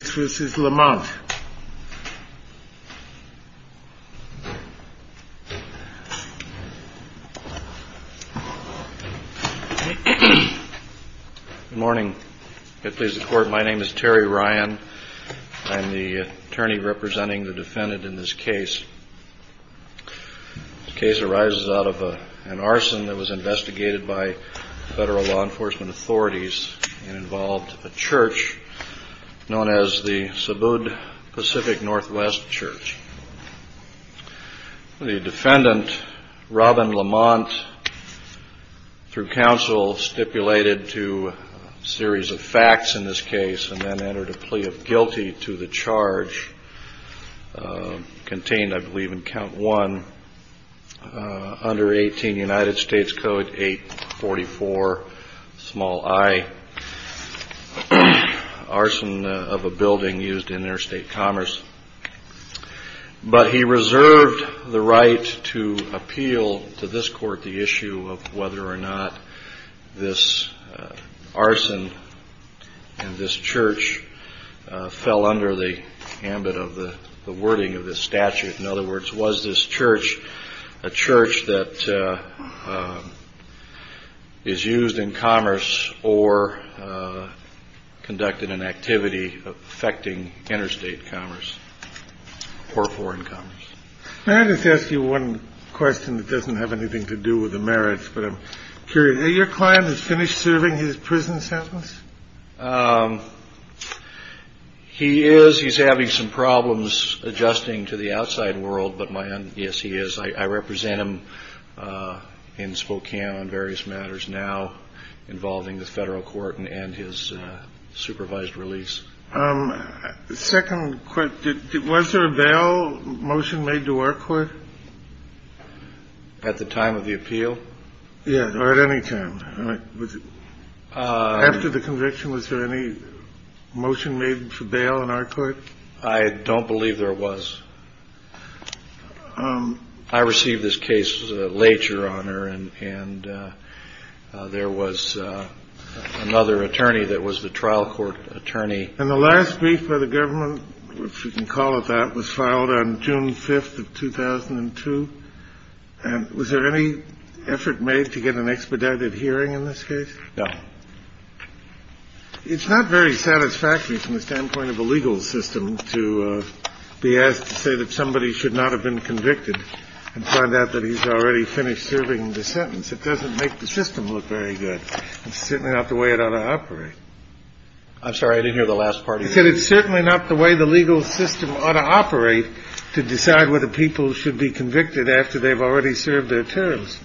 Good morning. My name is Terry Ryan. I'm the attorney representing the defendant in this case. The case arises out of an arson that was investigated by federal law enforcement authorities and involved a church known as the Cebud Pacific Northwest Church. The defendant, Robin Lamont, through counsel stipulated to a series of facts in this case and then entered a plea of guilty to the charge contained, I believe, in count one, under 18 United States Code 844, small i, arson of a building used in interstate commerce. But he reserved the right to appeal to this court the issue of whether or not this arson and this church fell under the ambit of the wording of this statute. In other words, was this church a is used in commerce or conducted an activity affecting interstate commerce or foreign commerce. May I just ask you one question that doesn't have anything to do with the merits, but I'm curious. Is your client finished serving his prison sentence? He is. He's having some various matters now involving the federal court and his supervised release. Second, was there a bail motion made to our court? At the time of the appeal? Yes, or at any time. After the conviction, was there any motion made for bail in our court? I don't believe there was. I received this case later on, and there was another attorney that was the trial court attorney. And the last brief by the government, if you can call it that, was filed on June 5th of 2002. And was there any effort made to get an expedited hearing in this case? No. It's not very satisfactory from the standpoint of a legal system to be asked to say that somebody should not have been convicted and find out that he's already finished serving the sentence. It doesn't make the system look very good. It's certainly not the way it ought to operate. I'm sorry. I didn't hear the last part. He said it's certainly not the way the legal system ought to operate to decide whether people should be convicted after they've already served their terms.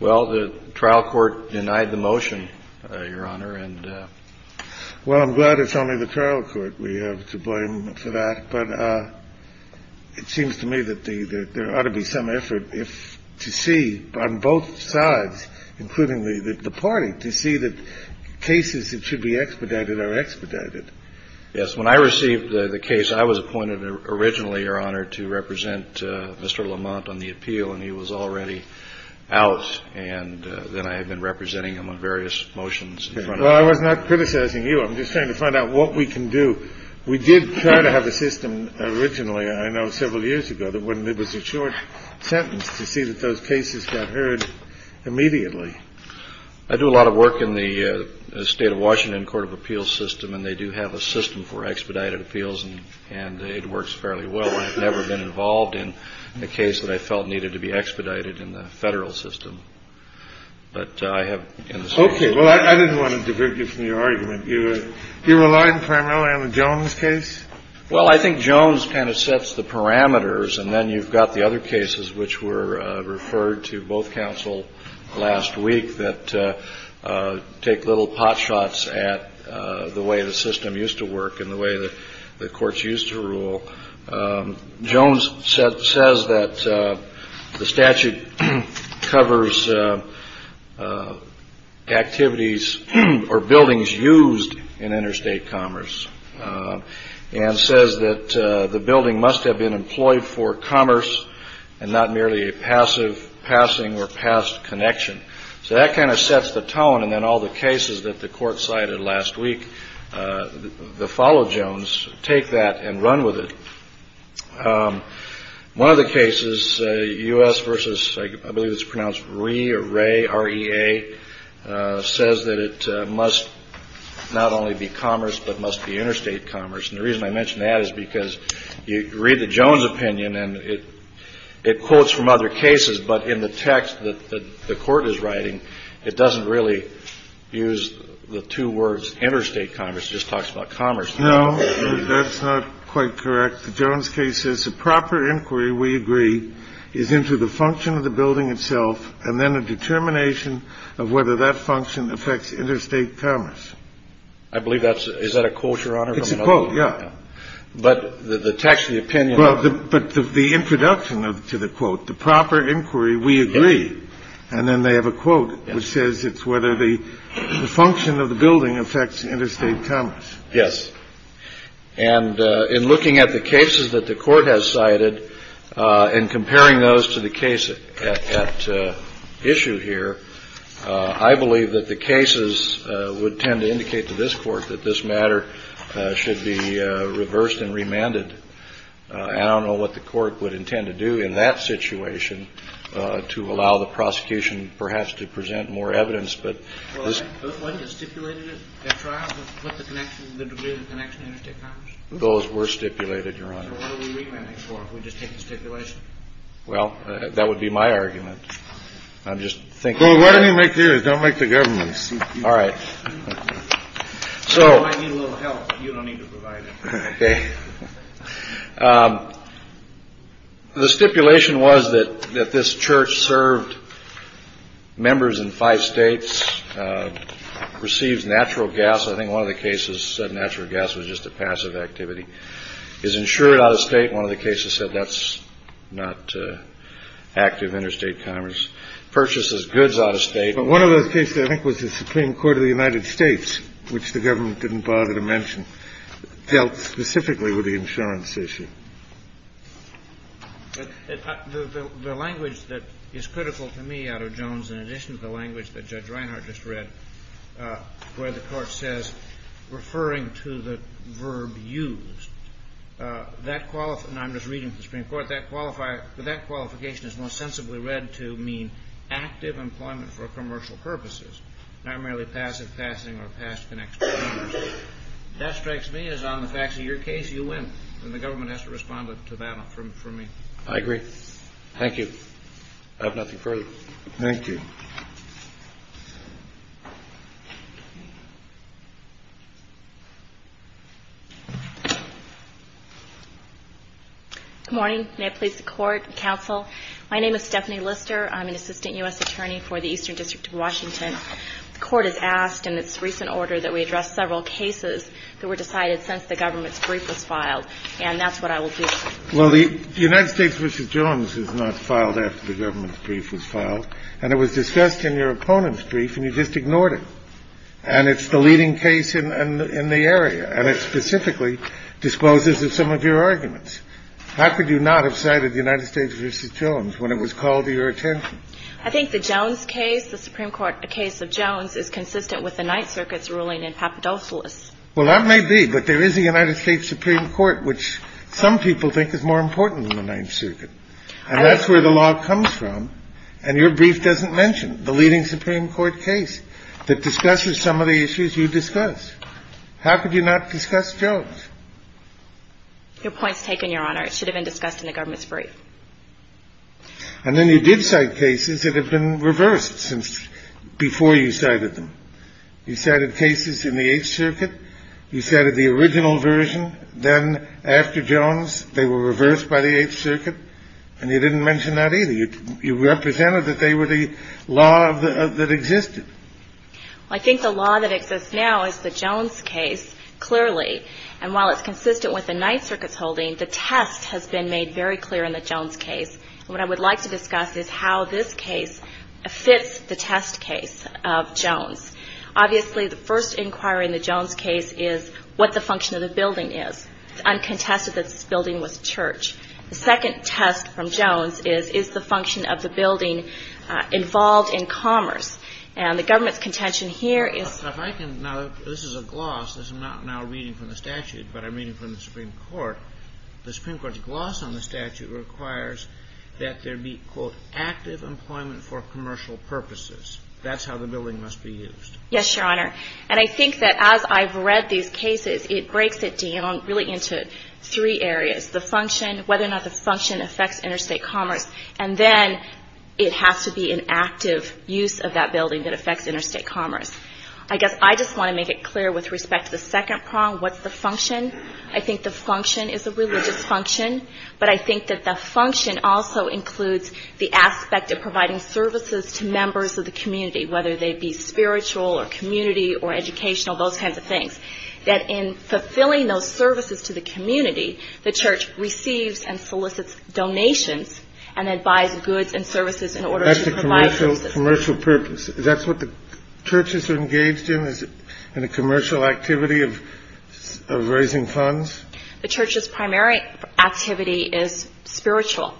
Well, the trial court denied the motion, Your Honor. Well, I'm glad it's only the trial court we have to blame for that. But it seems to me that there ought to be some effort to see on both sides, including the party, to see that cases that should be expedited are expedited. Yes. When I received the case, I was appointed originally, Your Honor, to represent Mr. Lamont on the appeal, and he was already out. And then I had been representing him on various motions Well, I was not criticizing you. I'm just trying to find out what we can do. We did try to have a system originally, I know, several years ago that when it was a short sentence to see that those cases got heard immediately. I do a lot of work in the state of Washington Court of Appeals system, and they do have a system for expedited appeals, and it works fairly well. I've never been involved in a case that I felt needed to be Well, I think Jones kind of sets the parameters, and then you've got the other cases which were referred to both counsel last week that take little potshots at the way the system used to work and the way the courts used to rule. Jones says that the statute covers activities or buildings used in interstate commerce and says that the building must have been employed for commerce and not merely a passive passing or past connection. So that kind of sets the tone, and then all the cases that the court cited last week, the follow Jones, take that and run with it. One of the cases, U.S. versus, I believe it's pronounced Ree or Ray, R-E-A, says that it must not only be commerce but must be interstate commerce, and the reason I mention that is because you read the Jones opinion, and it quotes from other cases, but in the text that the court is writing, it doesn't really use the two words interstate commerce. It just talks about commerce. No, that's not quite correct. The Jones case says the proper inquiry, we agree, is into the function of the building itself and then a determination of whether that function affects interstate commerce. I believe that's – is that a quote, Your Honor? It's a quote, yeah. But the text, the opinion – But the introduction to the quote, the proper inquiry, we agree, and then they have a quote that says it's whether the function of the building affects interstate commerce. Yes. And in looking at the cases that the court has cited and comparing those to the case at issue here, I believe that the cases would tend to indicate to this Court that this matter should be reversed and remanded. I don't know what the court would intend to do in that situation to allow the prosecution perhaps to present more evidence, but this – Well, wasn't it stipulated at trial to put the connection – the degree of the connection to interstate commerce? Those were stipulated, Your Honor. So what are we remanding for if we just take the stipulation? Well, that would be my argument. I'm just thinking – Well, why don't you make yours? Don't make the government's. All right. You might need a little help, but you don't need to provide it. Okay. The stipulation was that this church served members in five states, receives natural gas. I think one of the cases said natural gas was just a passive activity. Is insured out of state. One of the cases said that's not active interstate commerce. Purchases goods out of state. But one of those cases, I think, was the Supreme Court of the United States, which the government didn't bother to mention, dealt specifically with the insurance issue. The language that is critical to me out of Jones, in addition to the language that Judge Reinhart just read, where the court says, referring to the verb used, that – and I'm just reading from the Supreme Court – that qualification is most sensibly read to mean active employment for commercial purposes, not merely passive passing or past connections. That strikes me as, on the facts of your case, you win. And the government has to respond to that for me. I agree. Thank you. I have nothing further. Thank you. Good morning. May I please the court and counsel? My name is Stephanie Lister. I'm an assistant U.S. attorney for the Eastern District of Washington. The court has asked, in its recent order, that we address several cases that were decided since the government's brief was filed. And that's what I will do. Well, the United States v. Jones is not filed after the government's brief was filed. And it was discussed in your opponent's brief. And you just ignored it. And it's the leading case in the area. And it specifically discloses some of your arguments. How could you not have cited the United States v. Jones when it was called to your attention? I think the Jones case, the Supreme Court case of Jones, is consistent with the Ninth Circuit's ruling in Papadopoulos. Well, that may be, but there is a United States Supreme Court, which some people think is more important than the Ninth Circuit. And that's where the law comes from. And your brief doesn't mention the leading Supreme Court case that discusses some of the issues you discuss. How could you not discuss Jones? Your point's taken, Your Honor. It should have been discussed in the government's brief. And then you did cite cases that have been reversed since before you cited them. You cited cases in the Eighth Circuit. You cited the original version. Then, after Jones, they were reversed by the Eighth Circuit. And you didn't mention that either. You represented that they were the law that existed. I think the law that exists now is the Jones case, clearly. And while it's consistent with the Ninth Circuit's holding, the test has been made very clear in the Jones case. What I would like to discuss is how this case fits the test case of Jones. Obviously, the first inquiry in the Jones case is what the function of the building is. It's uncontested that this building was church. The second test from Jones is, is the function of the building involved in commerce? And the government's contention here is... If I can, now, this is a gloss. I'm not now reading from the statute, but I'm reading from the Supreme Court. The Supreme Court's gloss on the statute requires that there be, quote, active employment for commercial purposes. That's how the building must be used. Yes, Your Honor. And I think that as I've read these cases, it breaks it down really into three areas. The function, whether or not the function affects interstate commerce, and then it has to be an active use of that building that affects interstate commerce. I guess I just want to make it clear with respect to the second prong, what's the function? I think the function is a religious function, but I think that the function also includes the aspect of providing services to members of the community, whether they be spiritual or community or educational, those kinds of things. That in fulfilling those services to the community, the church receives and solicits donations and then buys goods and services in order to provide those services. That's a commercial purpose. Is that what the church is engaged in? Is it a commercial activity of raising funds? The church's primary activity is spiritual.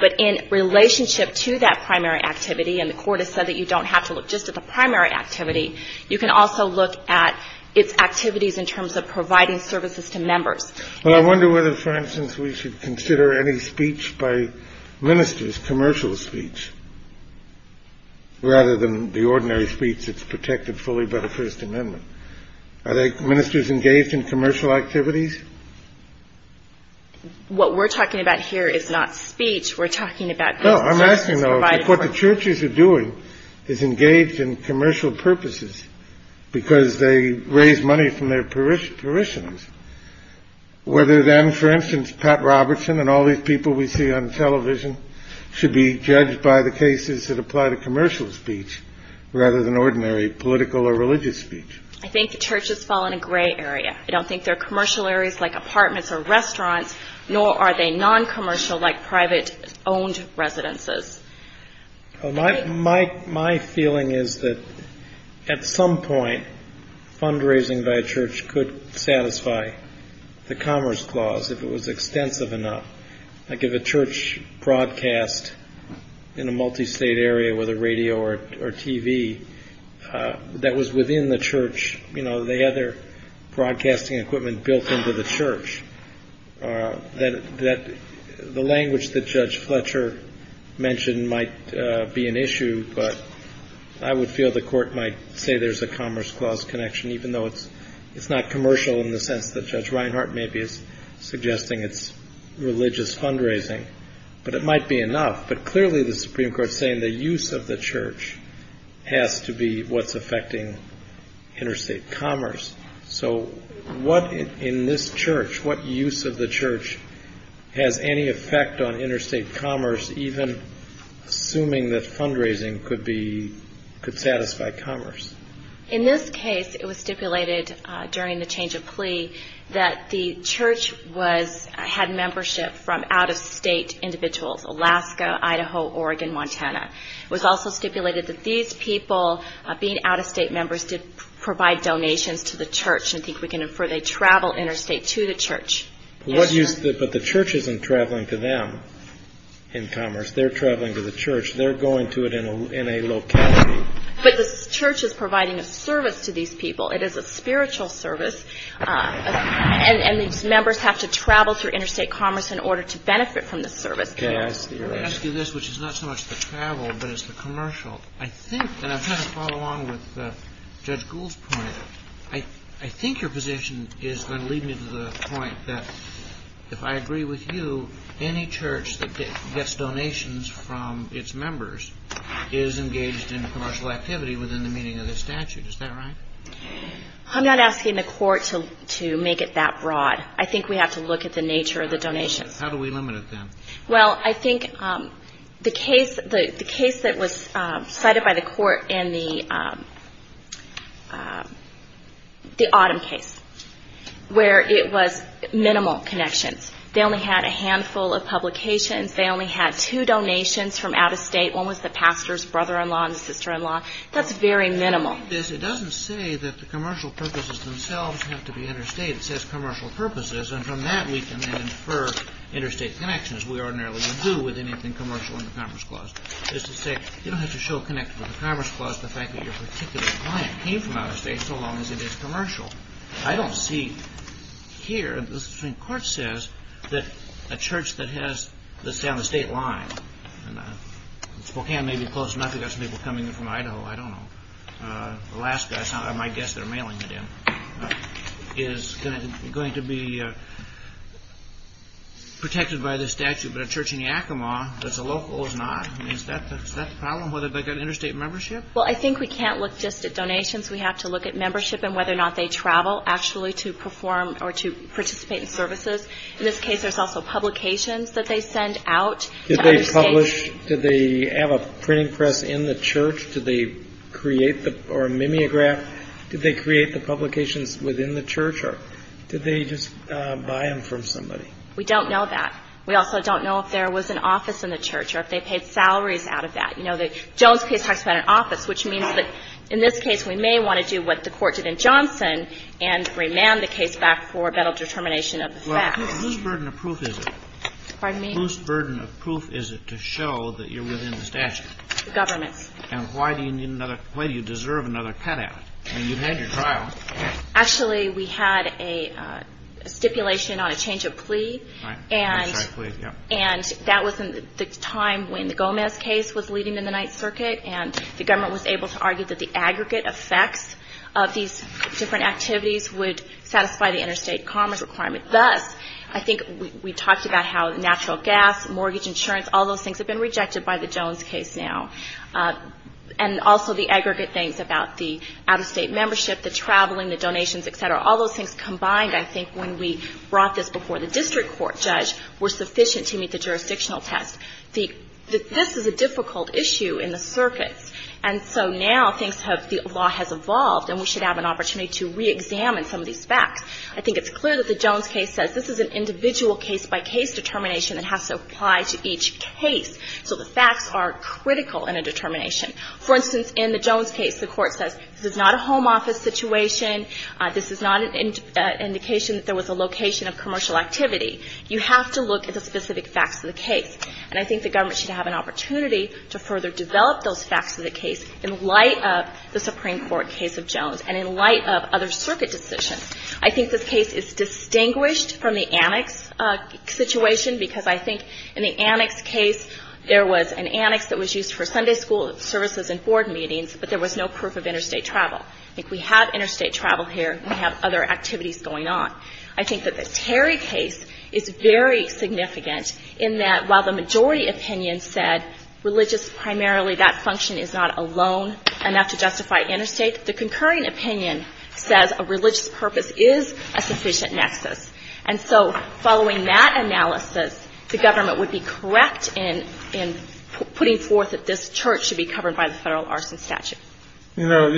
But in relationship to that primary activity, and the Court has said that you don't have to look just at the primary activity, you can also look at its activities in terms of providing services to members. Well, I wonder whether, for instance, we should consider any speech by ministers, commercial speech, rather than the ordinary speech that's protected fully by the First Amendment. Are ministers engaged in commercial activities? What we're talking about here is not speech. We're talking about... No, I'm asking, though, if what the churches are doing is engaged in commercial purposes because they raise money from their parishioners, whether then, for instance, Pat Robertson and all these people we see on television should be judged by the cases that apply to commercial speech rather than ordinary political or religious speech. I think the churches fall in a gray area. I don't think they're commercial areas like apartments or restaurants, nor are they non-commercial like private-owned residences. My feeling is that, at some point, fundraising by a church could satisfy the Commerce Clause, if it was extensive enough. Like if a church broadcast in a multi-state area with a radio or TV that was within the church, you know, they had their broadcasting equipment built into the church, that the language that Judge Fletcher mentioned might be an issue, but I would feel the Court might say there's a Commerce Clause connection, even though it's not commercial in the sense that Judge Reinhart maybe is suggesting it's religious fundraising. But it might be enough. But clearly the Supreme Court is saying the use of the church has to be what's affecting interstate commerce. So what in this church, what use of the church has any effect on interstate commerce, even assuming that fundraising could satisfy commerce? In this case, it was stipulated during the change of plea that the church had membership from out-of-state individuals, Alaska, Idaho, Oregon, Montana. It was also stipulated that these people, being out-of-state members, did provide donations to the church. I think we can infer they travel interstate to the church. But the church isn't traveling to them in commerce. They're traveling to the church. They're going to it in a locality. But the church is providing a service to these people. It is a spiritual service. And these members have to travel through interstate commerce in order to benefit from the service. Let me ask you this, which is not so much the travel, but it's the commercial. I think, and I'm trying to follow along with Judge Gould's point, I think your position is going to lead me to the point that, if I agree with you, any church that gets donations from its members is engaged in commercial activity within the meaning of the statute. Is that right? I'm not asking the court to make it that broad. I think we have to look at the nature of the donations. How do we limit it then? Well, I think the case that was cited by the court in the Autumn case, where it was minimal connections. They only had a handful of publications. They only had two donations from out of state. One was the pastor's brother-in-law and sister-in-law. That's very minimal. It doesn't say that the commercial purposes themselves have to be interstate. It says commercial purposes. And from that, we can then infer interstate connections. We ordinarily do with anything commercial in the Commerce Clause. It's to say, you don't have to show a connection with the Commerce Clause to the fact that your particular client came from out of state, so long as it is commercial. I don't see here, the Supreme Court says, that a church that's down the state line, Spokane may be close enough. You've got some people coming in from Idaho. I don't know. Alaska, I guess they're mailing it in. Is going to be protected by the statute, but a church in Yakima that's a local is not? Is that the problem? Whether they've got interstate membership? Well, I think we can't look just at donations. We have to look at membership and whether or not they travel, actually, to perform or to participate in services. In this case, there's also publications that they send out to out of state. Did they publish? Did they have a printing press in the church? Did they create or mimeograph? Did they create the publications within the church, or did they just buy them from somebody? We don't know that. We also don't know if there was an office in the church or if they paid salaries out of that. You know, the Jones case talks about an office, which means that in this case, we may want to do what the Court did in Johnson and remand the case back for better determination of the facts. Well, whose burden of proof is it? Pardon me? Whose burden of proof is it to show that you're within the statute? The government's. And why do you deserve another cutout? I mean, you've had your trial. Actually, we had a stipulation on a change of plea, and that was in the time when the Gomez case was leading in the Ninth Circuit, and the government was able to argue that the aggregate effects of these different activities would satisfy the interstate commerce requirement. Thus, I think we talked about how natural gas, mortgage insurance, all those things have been rejected by the Jones case now. And also the aggregate things about the out-of-state membership, the traveling, the donations, et cetera. All those things combined, I think, when we brought this before the district court judge, were sufficient to meet the jurisdictional test. This is a difficult issue in the circuits, and so now the law has evolved, and we should have an opportunity to reexamine some of these facts. I think it's clear that the Jones case says this is an individual case by case determination that has to apply to each case. So the facts are critical in a determination. For instance, in the Jones case, the court says this is not a home office situation, this is not an indication that there was a location of commercial activity. You have to look at the specific facts of the case. And I think the government should have an opportunity to further develop those facts of the case in light of the Supreme Court case of Jones and in light of other circuit decisions. I think this case is distinguished from the Annex situation because I think in the Annex case, there was an annex that was used for Sunday school services and board meetings, but there was no proof of interstate travel. I think we have interstate travel here. We have other activities going on. I think that the Terry case is very significant in that while the majority opinion said religious primarily, that function is not a loan enough to justify interstate, the concurring opinion says a religious purpose is a sufficient nexus. And so following that analysis, the government would be correct in putting forth that this church should be covered by the federal arson statute. You know,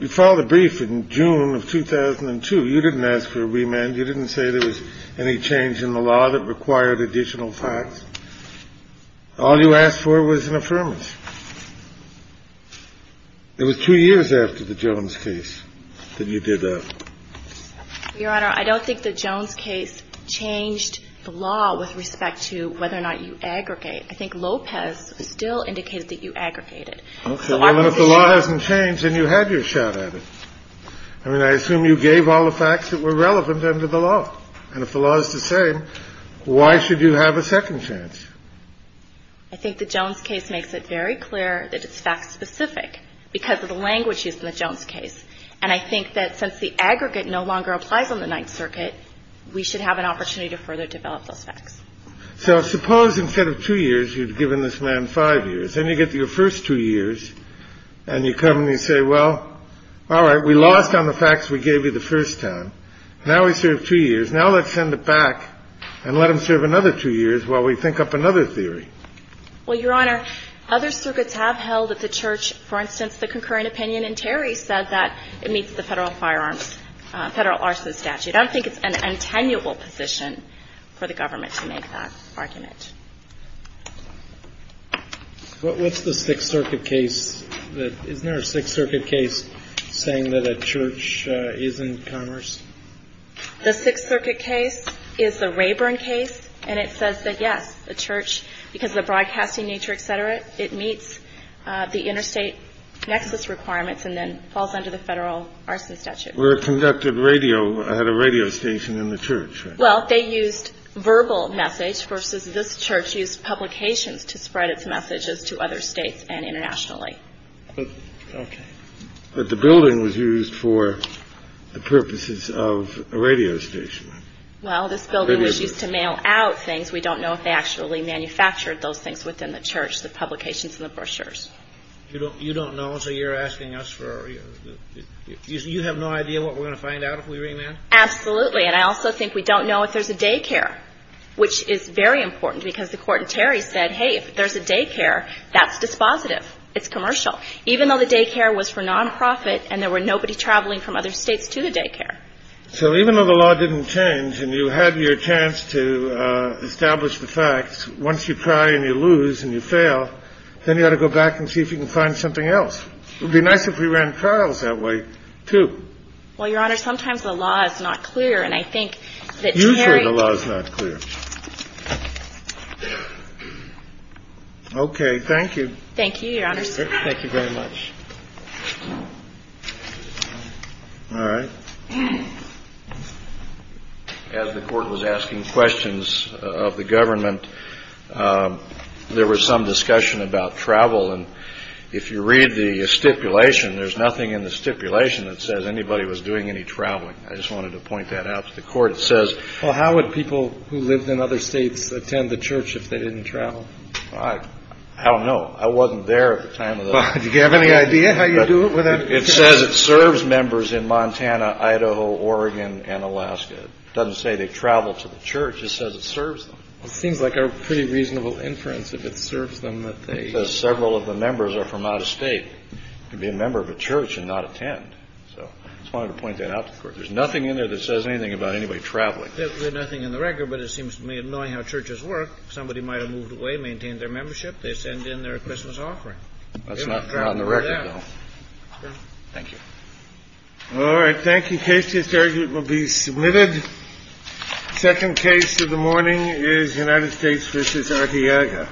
you filed a brief in June of 2002. You didn't ask for a remand. You didn't say there was any change in the law that required additional facts. All you asked for was an affirmance. It was two years after the Jones case that you did that. Your Honor, I don't think the Jones case changed the law with respect to whether or not you aggregate. I think Lopez still indicates that you aggregated. Okay. Well, if the law hasn't changed then you had your shot at it. I mean, I assume you gave all the facts that were relevant under the law. And if the law is the same, why should you have a second chance? I think the Jones case makes it very clear that it's fact specific because of the language used in the Jones case. And I think that since the aggregate no longer applies on the Ninth Circuit, we should have an opportunity to further develop those facts. So suppose instead of two years, you'd given this man five years. Then you get to your first two years and you come and you say, well, all right, we lost on the facts we gave you the first time. Now we serve two years. Now let's send it back and let him serve another two years while we think up another theory. Well, Your Honor, other circuits have held that the church, for instance, the concurrent opinion in Terry said that it meets the federal firearms, federal arson statute. I don't think it's an attenuable position for the government to make that argument. What's the Sixth Circuit case? Isn't there a Sixth Circuit case saying that a church is in commerce? The Sixth Circuit case is the Rayburn case and it says that, yes, a church, because of the broadcasting nature, et cetera, it meets the interstate nexus requirements and then falls under the federal arson statute. Where it conducted radio, had a radio station in the church, right? Well, they used verbal message versus this church used publications to spread its messages to other states and internationally. But the building was used for the purposes of a radio station. Well, this building was used to mail out things. We don't know if they actually manufactured those things within the church, the publications and the brochures. You don't know, so you're asking us for... You have no idea what we're going to find out if we remand? Absolutely. And I also think we don't know if there's a daycare, which is very important because the Court in Terry said, hey, if there's a daycare, that's dispositive. It's commercial. Even though the daycare was for non-profit and there were nobody traveling from other states to the daycare. So even though the law didn't change and you had your chance to establish the facts, once you try and you lose and you fail, then you ought to go back and see if you can find something else. It would be nice if we ran trials that way, too. Well, Your Honor, sometimes the law is not clear and I think that Terry... You say the law is not clear. Okay. Thank you. Thank you, Your Honor. Thank you very much. All right. As the Court was asking questions of the government, there was some discussion about travel and if you read the stipulation, there's nothing in the stipulation that says anybody was doing any traveling. I just wanted to point that out to the Court. It says... Well, how would people who lived in other states attend the church if they didn't travel? I don't know. I wasn't there at the time of the... Do you have any idea how you do it without... It says it serves members in Montana, Idaho, Oregon, and Alaska. It doesn't say they travel to the church. It says it serves them. It seems like a pretty reasonable inference if it serves them that they... It says several of the members are from out of state to be a member of a church and not attend. So I just wanted to point that out to the Court. There's nothing in there that says anything about anybody traveling. There's nothing in the record, but it seems to me annoying how churches work. Somebody might have moved away, maintained their membership, they send in their Christmas offering. That's not on the record, though. Thank you. All right. Thank you, Case. This argument will be submitted. Second case of the morning is United States v. Arteaga.